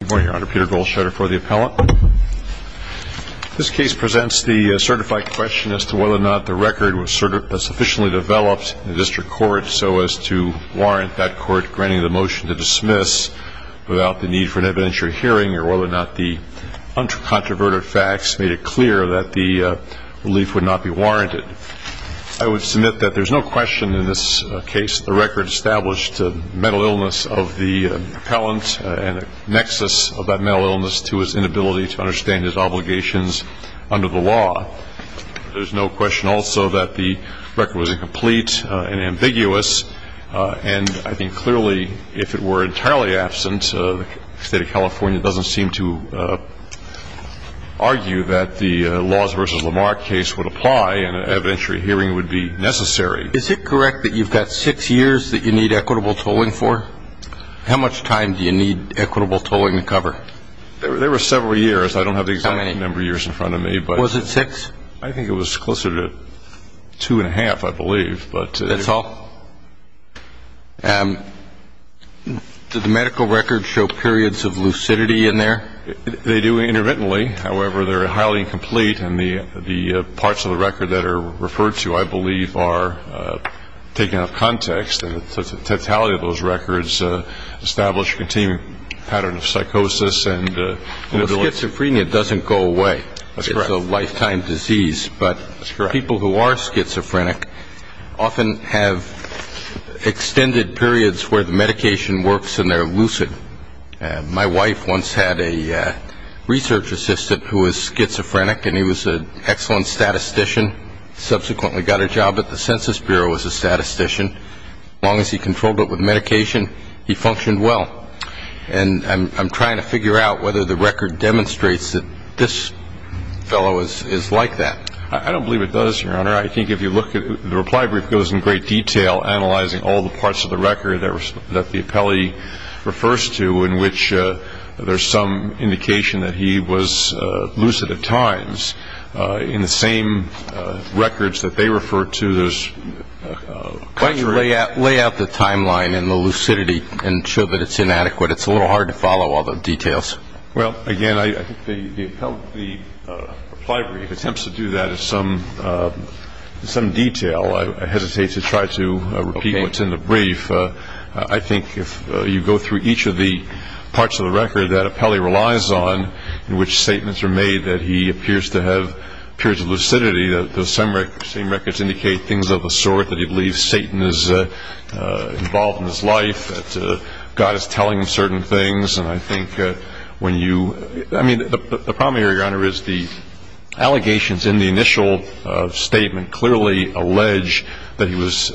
This case presents the certified question as to whether or not the record was sufficiently developed in the district court so as to warrant that court granting the motion to dismiss without the need for an evidentiary hearing or whether or not the uncontroverted facts made it clear that the relief would not be warranted. I would submit that there's no question in this case the record established a mental illness of the appellant and a nexus of that mental illness to his inability to understand his obligations under the law. There's no question also that the record was incomplete and ambiguous and I think clearly if it were entirely absent the state of California doesn't seem to argue that the Laws v. Lamar case would apply and an evidentiary hearing would be necessary. Is it correct that you've got six years that you need equitable tolling for? How much time do you need equitable tolling to cover? There were several years. I don't have the exact number of years in front of me. Was it six? I think it was closer to two and a half, I believe. That's all? Did the medical record show periods of lucidity in there? They do intermittently. However, they're highly incomplete and the parts of the record that are referred to, I believe, are taken out of context and the totality of those records establish a continuing pattern of psychosis and inability to It's a lifetime disease, but people who are schizophrenic often have extended periods where the medication works and they're lucid. My wife once had a research assistant who was schizophrenic and he was an excellent statistician, subsequently got a job at the Census Bureau as a statistician. As long as he controlled it with medication, he functioned well. And I'm trying to figure out whether the record demonstrates that this fellow is like that. I don't believe it does, Your Honor. I think if you look at the reply brief, it goes in great detail analyzing all the parts of the record that the appellee refers to in which there's some indication that he was lucid at times. In the same records that they refer to, there's contrary Why don't you lay out the timeline and the lucidity and show that it's inadequate? It's a little hard to follow all the details. Well, again, I think the reply brief attempts to do that in some detail. I hesitate to try to repeat what's in the brief. I think if you go through each of the parts of the record that appellee relies on in which statements are made that he appears to have periods of lucidity, those same records indicate things of the sort that he believes Satan is involved in his life, that God is telling him certain things. And I think when you – I mean, the problem here, Your Honor, is the allegations in the initial statement clearly allege that he was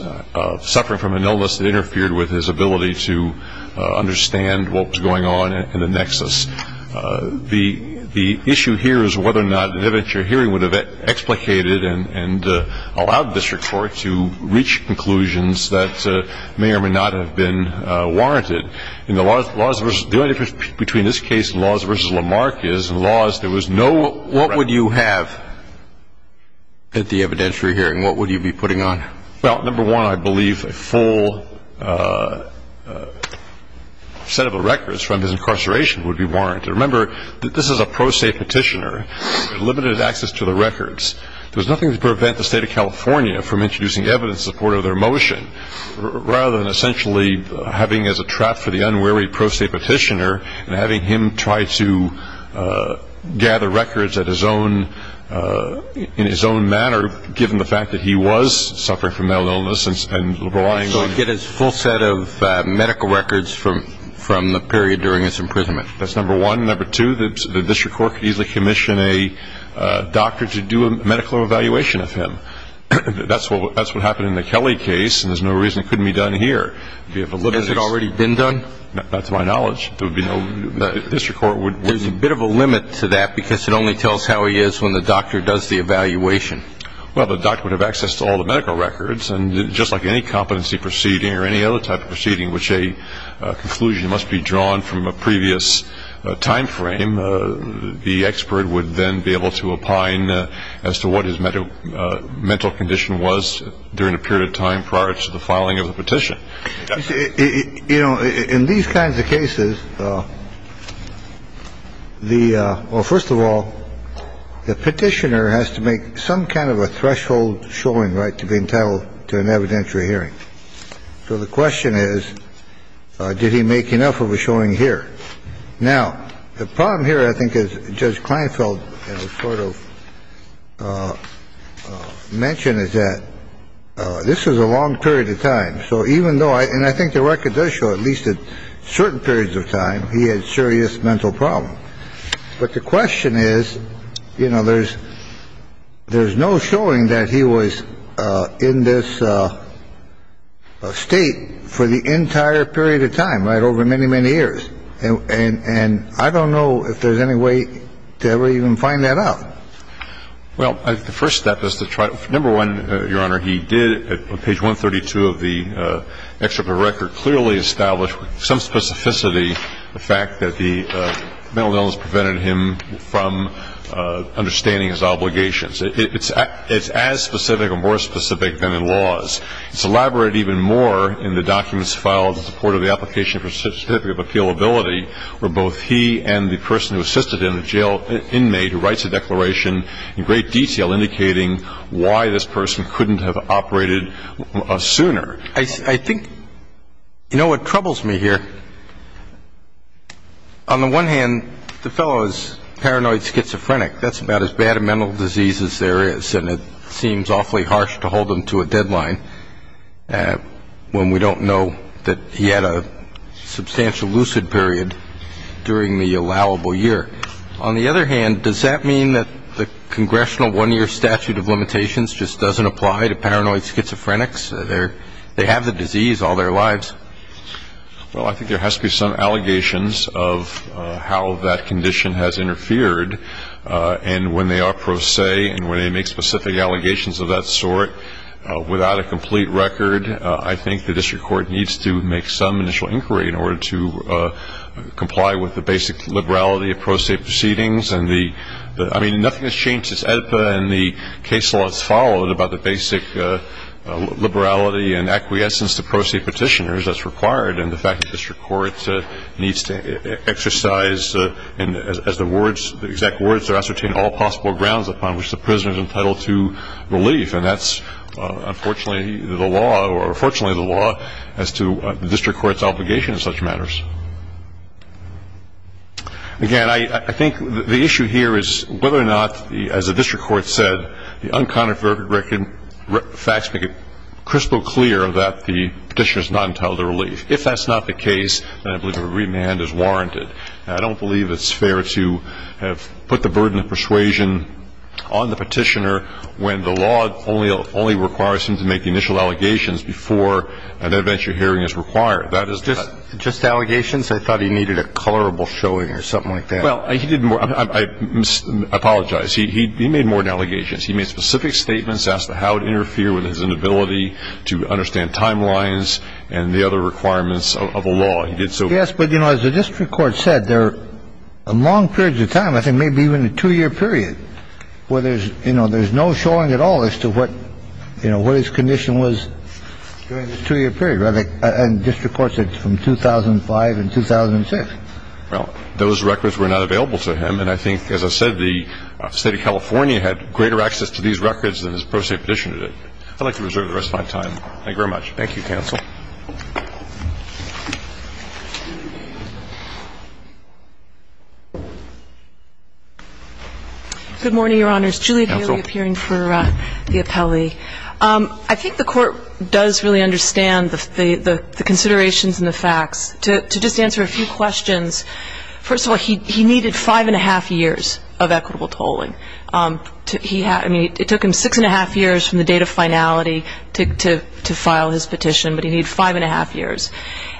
suffering from an illness that interfered with his ability to understand what was going on in the nexus. The issue here is whether or not the evidence you're hearing would have explicated and allowed this report to reach conclusions that may or may not have been warranted. The only difference between this case and Laws v. Lamarck is in Laws there was no – What would you have at the evidence you're hearing? What would you be putting on? Well, number one, I believe a full set of records from his incarceration would be warranted. Remember, this is a pro se petitioner with limited access to the records. There was nothing to prevent the State of California from introducing evidence in support of their motion rather than essentially having as a trap for the unwary pro se petitioner and having him try to gather records in his own manner given the fact that he was suffering from mental illness and relying on – So he'd get his full set of medical records from the period during his imprisonment. That's number one. Number two, the district court could easily commission a doctor to do a medical evaluation of him. That's what happened in the Kelly case and there's no reason it couldn't be done here. Has it already been done? Not to my knowledge. There would be no – the district court would – There's a bit of a limit to that because it only tells how he is when the doctor does the evaluation. Well, the doctor would have access to all the medical records and just like any competency proceeding or any other type of proceeding which a conclusion must be drawn from a previous time frame, the expert would then be able to opine as to what his mental condition was during a period of time prior to the filing of the petition. You know, in these kinds of cases, the – well, first of all, the petitioner has to make some kind of a threshold showing right to be entitled to an evidentiary hearing. So the question is, did he make enough of a showing here? Now, the problem here I think as Judge Kleinfeld sort of mentioned is that this was a long period of time. So even though – and I think the record does show at least at certain periods of time he had serious mental problems. But the question is, you know, there's no showing that he was in this state for the entire period of time, right, over many, many years. And I don't know if there's any way to ever even find that out. Well, I think the first step is to try – number one, Your Honor, he did on page 132 of the excerpt of the record clearly establish with some specificity the fact that the mental illness prevented him from understanding his obligations. It's as specific or more specific than it was. It's elaborated even more in the documents filed in support of the application for certificate of appealability where both he and the person who assisted him, the jail inmate, who writes a declaration in great detail indicating why this person couldn't have operated sooner. I think – you know what troubles me here? On the one hand, the fellow is paranoid schizophrenic. In fact, that's about as bad a mental disease as there is, and it seems awfully harsh to hold him to a deadline when we don't know that he had a substantial lucid period during the allowable year. On the other hand, does that mean that the congressional one-year statute of limitations just doesn't apply to paranoid schizophrenics? They have the disease all their lives. Well, I think there has to be some allegations of how that condition has interfered, and when they are pro se and when they make specific allegations of that sort without a complete record, I think the district court needs to make some initial inquiry in order to comply with the basic liberality of pro se proceedings. I mean, nothing has changed since AEDPA, and the case law that's followed about the basic liberality and acquiescence to pro se petitioners. That's required, and the fact that the district court needs to exercise, as the exact words are ascertained, all possible grounds upon which the prisoner is entitled to relief, and that's unfortunately the law, or fortunately the law as to the district court's obligation in such matters. Again, I think the issue here is whether or not, as the district court said, the unconfirmed facts make it crystal clear that the petitioner is not entitled to relief. If that's not the case, then I believe a remand is warranted. I don't believe it's fair to have put the burden of persuasion on the petitioner when the law only requires him to make the initial allegations before an adventure hearing is required. Just allegations? I thought he needed a colorable showing or something like that. Well, he didn't. I apologize. He made more than allegations. He made specific statements as to how to interfere with his inability to understand timelines and the other requirements of a law. He did so. Yes, but, you know, as the district court said, there are long periods of time, I think maybe even a two-year period, where there's no showing at all as to what his condition was during this two-year period, and district courts said from 2005 and 2006. Well, those records were not available to him, and I think, as I said, the State of California had greater access to these records than his pro se petition did. I'd like to reserve the rest of my time. Thank you very much. Thank you, counsel. Good morning, Your Honors. Counsel? Julie Haley appearing for the appellee. I think the Court does really understand the considerations and the facts. To just answer a few questions, first of all, he needed five-and-a-half years of equitable tolling. I mean, it took him six-and-a-half years from the date of finality to file his petition, but he needed five-and-a-half years.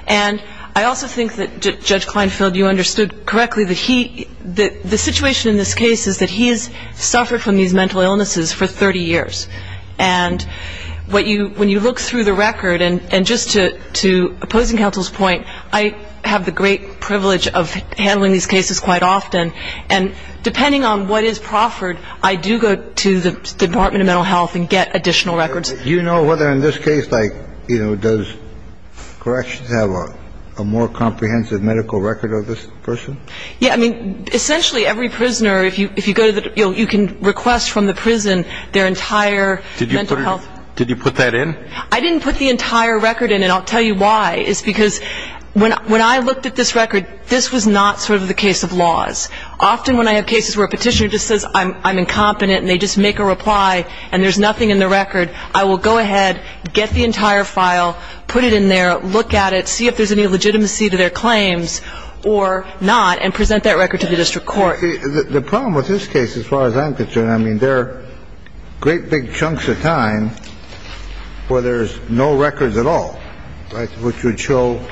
And I also think that, Judge Kleinfeld, you understood correctly that the situation in this case is that he has suffered from these mental illnesses for 30 years. And when you look through the record, and just to opposing counsel's point, I have the great privilege of handling these cases quite often. And depending on what is proffered, I do go to the Department of Mental Health and get additional records. Do you know whether in this case, like, you know, does corrections have a more comprehensive medical record of this person? Yeah. I mean, essentially every prisoner, if you go to the, you know, you can request from the prison their entire mental health. Did you put that in? I didn't put the entire record in, and I'll tell you why. It's because when I looked at this record, this was not sort of the case of laws. Often when I have cases where a petitioner just says, I'm incompetent, and they just make a reply, and there's nothing in the record, I will go ahead, get the entire file, put it in there, look at it, and see if there's any legitimacy to their claims or not, and present that record to the district court. The problem with this case, as far as I'm concerned, I mean, there are great big chunks of time where there's no records at all, which would show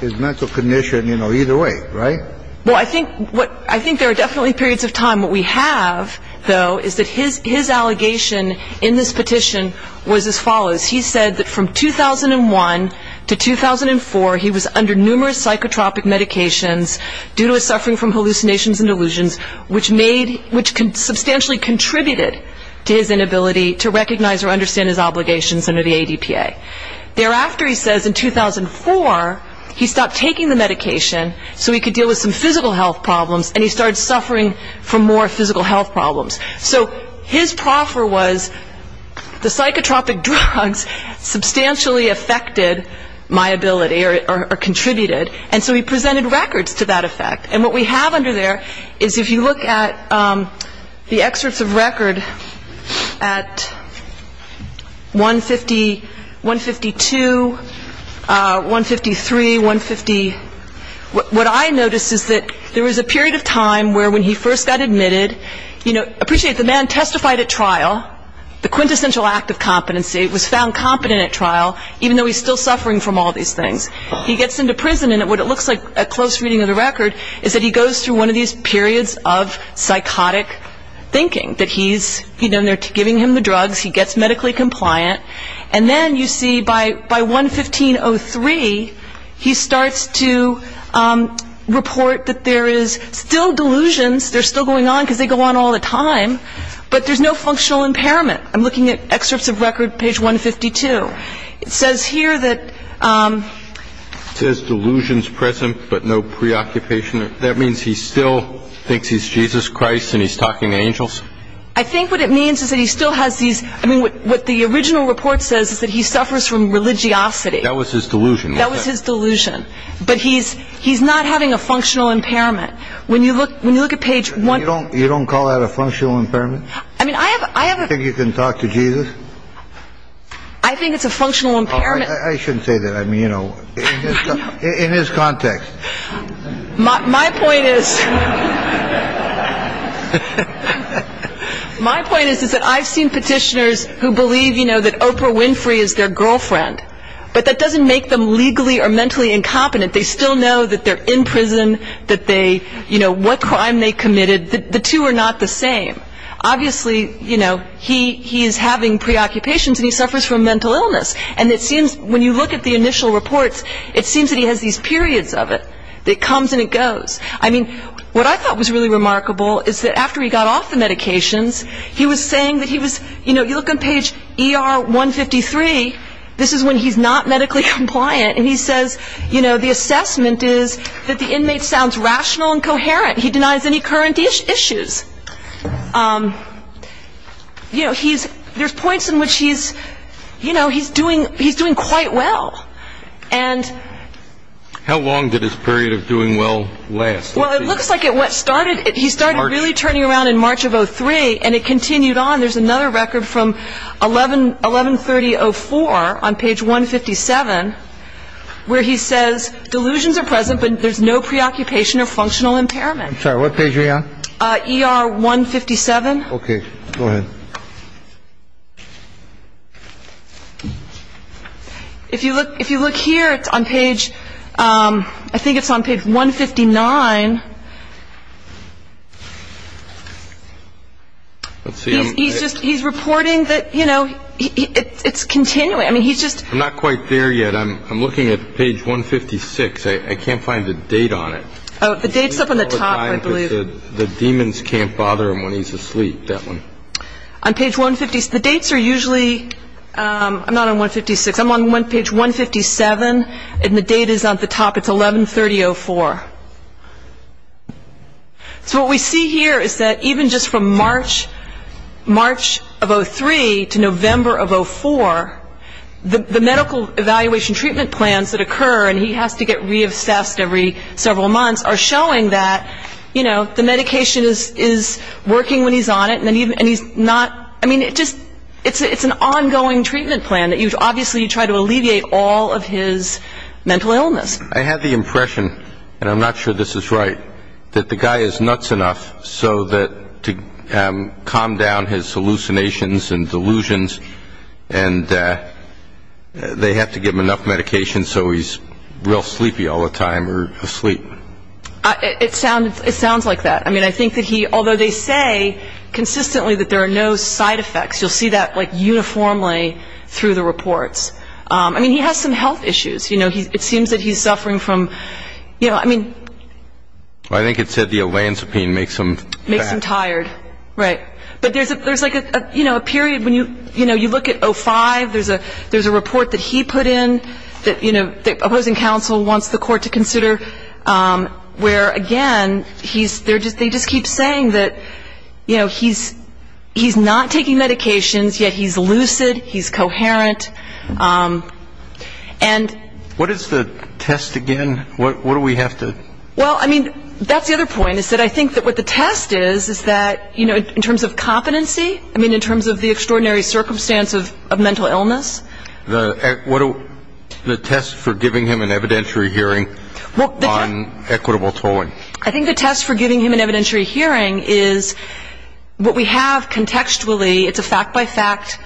his mental condition, you know, either way, right? Well, I think there are definitely periods of time. What we have, though, is that his allegation in this petition was as follows. He said that from 2001 to 2004, he was under numerous psychotropic medications due to his suffering from hallucinations and delusions, which substantially contributed to his inability to recognize or understand his obligations under the ADPA. Thereafter, he says, in 2004, he stopped taking the medication so he could deal with some physical health problems, and he started suffering from more physical health problems. So his proffer was the psychotropic drugs substantially affected my ability or contributed, and so he presented records to that effect. And what we have under there is, if you look at the excerpts of record at 150, 152, 153, 150, what I notice is that there was a period of time where when he first got admitted, you know, appreciate the man testified at trial, the quintessential act of competency, was found competent at trial, even though he's still suffering from all these things. He gets into prison, and what it looks like, a close reading of the record, is that he goes through one of these periods of psychotic thinking, that he's, you know, they're giving him the drugs, he gets medically compliant, and then you see by 115.03, he starts to report that there is still delusions, they're still going on because they go on all the time, but there's no functional impairment. I'm looking at excerpts of record, page 152. It says here that... It says delusions present, but no preoccupation. That means he still thinks he's Jesus Christ and he's talking to angels? I think what it means is that he still has these... I mean, what the original report says is that he suffers from religiosity. That was his delusion. That was his delusion. But he's not having a functional impairment. When you look at page... You don't call that a functional impairment? I mean, I have... You think you can talk to Jesus? I think it's a functional impairment. I shouldn't say that. I mean, you know, in his context. My point is... My point is that I've seen petitioners who believe, you know, that Oprah Winfrey is their girlfriend, but that doesn't make them legally or mentally incompetent. They still know that they're in prison, that they, you know, what crime they committed. The two are not the same. Obviously, you know, he is having preoccupations and he suffers from mental illness. And it seems when you look at the initial reports, it seems that he has these periods of it. It comes and it goes. I mean, what I thought was really remarkable is that after he got off the medications, he was saying that he was... You know, you look on page ER 153. This is when he's not medically compliant. And he says, you know, the assessment is that the inmate sounds rational and coherent. He denies any current issues. You know, he's... There's points in which he's, you know, he's doing quite well. And... How long did this period of doing well last? Well, it looks like it started... He started really turning around in March of 03 and it continued on. There's another record from 1130-04 on page 157 where he says delusions are present, but there's no preoccupation or functional impairment. I'm sorry. What page are you on? ER 157. Okay. Go ahead. If you look here, it's on page... I think it's on page 159. Let's see. He's just... He's reporting that, you know, it's continuing. I mean, he's just... I'm not quite there yet. I'm looking at page 156. I can't find the date on it. Oh, the date's up on the top, I believe. The demons can't bother him when he's asleep, that one. On page 156... The dates are usually... I'm not on 156. I'm on page 157 and the date is on the top. It's 1130-04. So what we see here is that even just from March of 03 to November of 04, the medical evaluation treatment plans that occur, and he has to get re-obsessed every several months, are showing that, you know, the medication is working when he's on it and he's not... I mean, it's an ongoing treatment plan. Obviously, you try to alleviate all of his mental illness. I have the impression, and I'm not sure this is right, that the guy is nuts enough to calm down his hallucinations and delusions and they have to give him enough medication so he's real sleepy all the time or asleep. It sounds like that. I mean, I think that he... Although they say consistently that there are no side effects. You'll see that, like, uniformly through the reports. I mean, he has some health issues. You know, it seems that he's suffering from, you know, I mean... I think it said the olanzapine makes him fat. Makes him tired. Right. But there's, like, a period when you look at 05, there's a report that he put in that, you know, the opposing counsel wants the court to consider where, again, he's... They just keep saying that, you know, he's not taking medications, yet he's lucid, he's coherent, and... What is the test again? What do we have to... Well, I mean, that's the other point, is that I think that what the test is, is that, you know, in terms of competency, I mean, in terms of the extraordinary circumstance of mental illness... The test for giving him an evidentiary hearing on equitable tolling. I think the test for giving him an evidentiary hearing is what we have contextually. It's a fact-by-fact,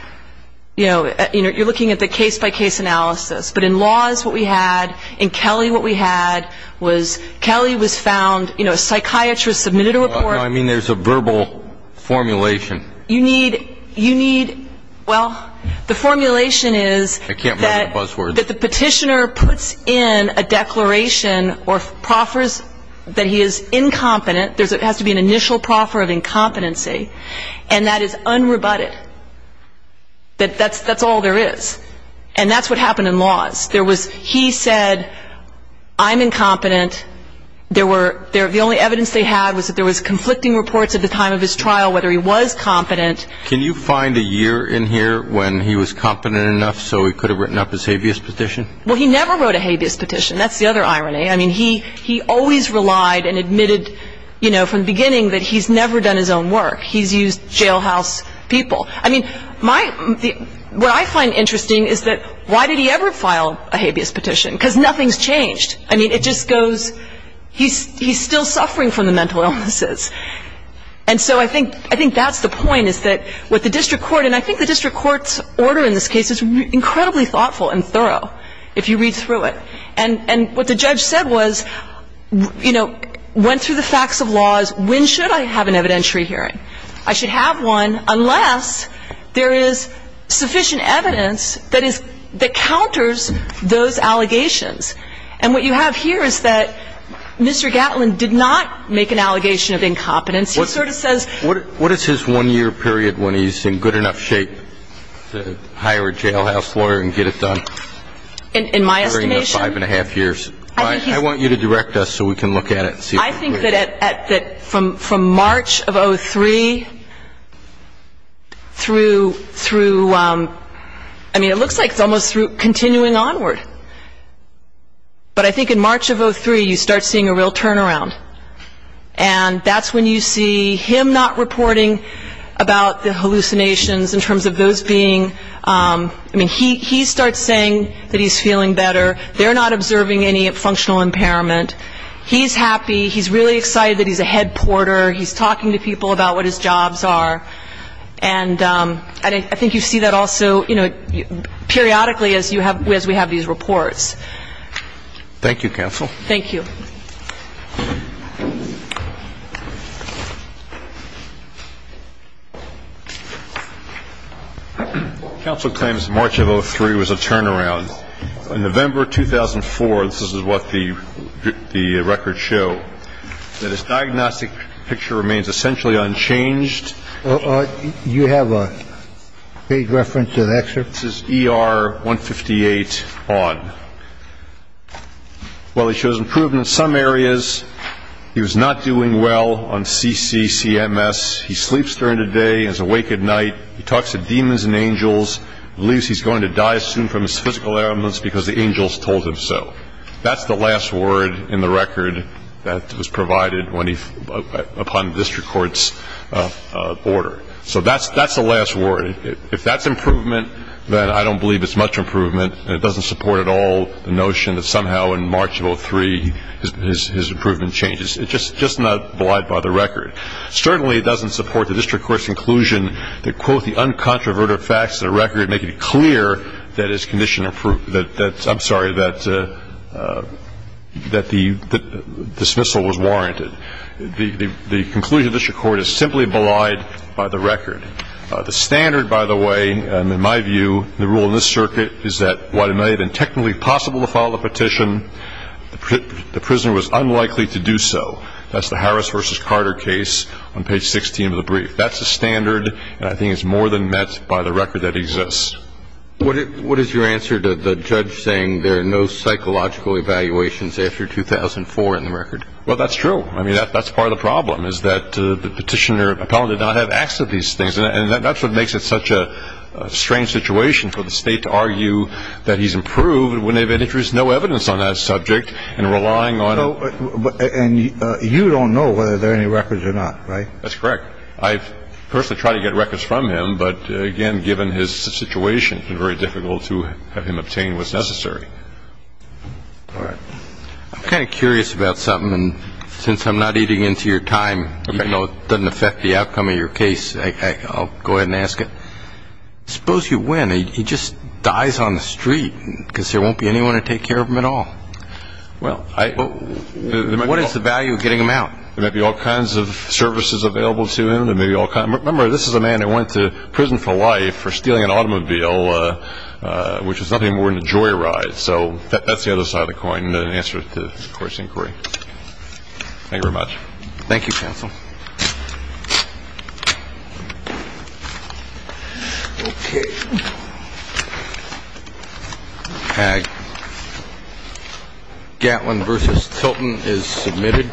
you know, you're looking at the case-by-case analysis. But in laws, what we had. In Kelly, what we had was Kelly was found, you know, a psychiatrist submitted a report... No, I mean there's a verbal formulation. You need... You need... Well, the formulation is... I can't remember the buzzwords. ...that the petitioner puts in a declaration or proffers that he is incompetent. There has to be an initial proffer of incompetency, and that is unrebutted. That's all there is. And that's what happened in laws. There was... He said, I'm incompetent. There were... The only evidence they had was that there was conflicting reports at the time of his trial, whether he was competent. Can you find a year in here when he was competent enough so he could have written up his habeas petition? Well, he never wrote a habeas petition. That's the other irony. I mean, he always relied and admitted, you know, from the beginning that he's never done his own work. He's used jailhouse people. I mean, my... What I find interesting is that why did he ever file a habeas petition? Because nothing's changed. I mean, it just goes... He's still suffering from the mental illnesses. And so I think that's the point, is that what the district court... And I think the district court's order in this case is incredibly thoughtful and thorough, if you read through it. And what the judge said was, you know, went through the facts of laws. When should I have an evidentiary hearing? I should have one unless there is sufficient evidence that counters those allegations. And what you have here is that Mr. Gatlin did not make an allegation of incompetence. He sort of says... What is his one-year period when he's in good enough shape to hire a jailhouse lawyer and get it done? In my estimation... During the five-and-a-half years. I want you to direct us so we can look at it and see... I think that from March of 2003 through... I mean, it looks like it's almost continuing onward. But I think in March of 2003, you start seeing a real turnaround. And that's when you see him not reporting about the hallucinations in terms of those being... I mean, he starts saying that he's feeling better. They're not observing any functional impairment. He's happy. He's really excited that he's a head porter. He's talking to people about what his jobs are. And I think you see that also, you know, periodically as we have these reports. Thank you, counsel. Thank you. Counsel claims March of 2003 was a turnaround. In November of 2004, this is what the records show, that his diagnostic picture remains essentially unchanged. Do you have a page reference to that, sir? This is ER 158 on. Well, he shows improvement in some areas. He was not doing well on CCCMS. He sleeps during the day and is awake at night. He talks to demons and angels. He believes he's going to die soon from his physical ailments because the angels told him so. That's the last word in the record that was provided upon the district court's order. So that's the last word. If that's improvement, then I don't believe it's much improvement, and it doesn't support at all the notion that somehow in March of 2003 his improvement changed. It's just not belied by the record. Certainly, it doesn't support the district court's inclusion that, quote, the uncontroverted facts of the record make it clear that his condition improved that the dismissal was warranted. The conclusion of the district court is simply belied by the record. The standard, by the way, in my view, the rule in this circuit, is that while it may have been technically possible to file a petition, the prisoner was unlikely to do so. That's the Harris v. Carter case on page 16 of the brief. That's the standard, and I think it's more than met by the record that exists. What is your answer to the judge saying there are no psychological evaluations after 2004 in the record? Well, that's true. I mean, that's part of the problem is that the petitioner did not have access to these things, and that's what makes it such a strange situation for the state to argue that he's improved And you don't know whether there are any records or not, right? That's correct. I've personally tried to get records from him, but, again, given his situation, it's been very difficult to have him obtain what's necessary. All right. I'm kind of curious about something, and since I'm not eating into your time, even though it doesn't affect the outcome of your case, I'll go ahead and ask it. Suppose you win. He just dies on the street because there won't be anyone to take care of him at all. What is the value of getting him out? There might be all kinds of services available to him. Remember, this is a man that went to prison for life for stealing an automobile, which is nothing more than a joyride. So that's the other side of the coin in answer to the court's inquiry. Thank you very much. Thank you, counsel. Okay. Gatlin v. Tilton is submitted.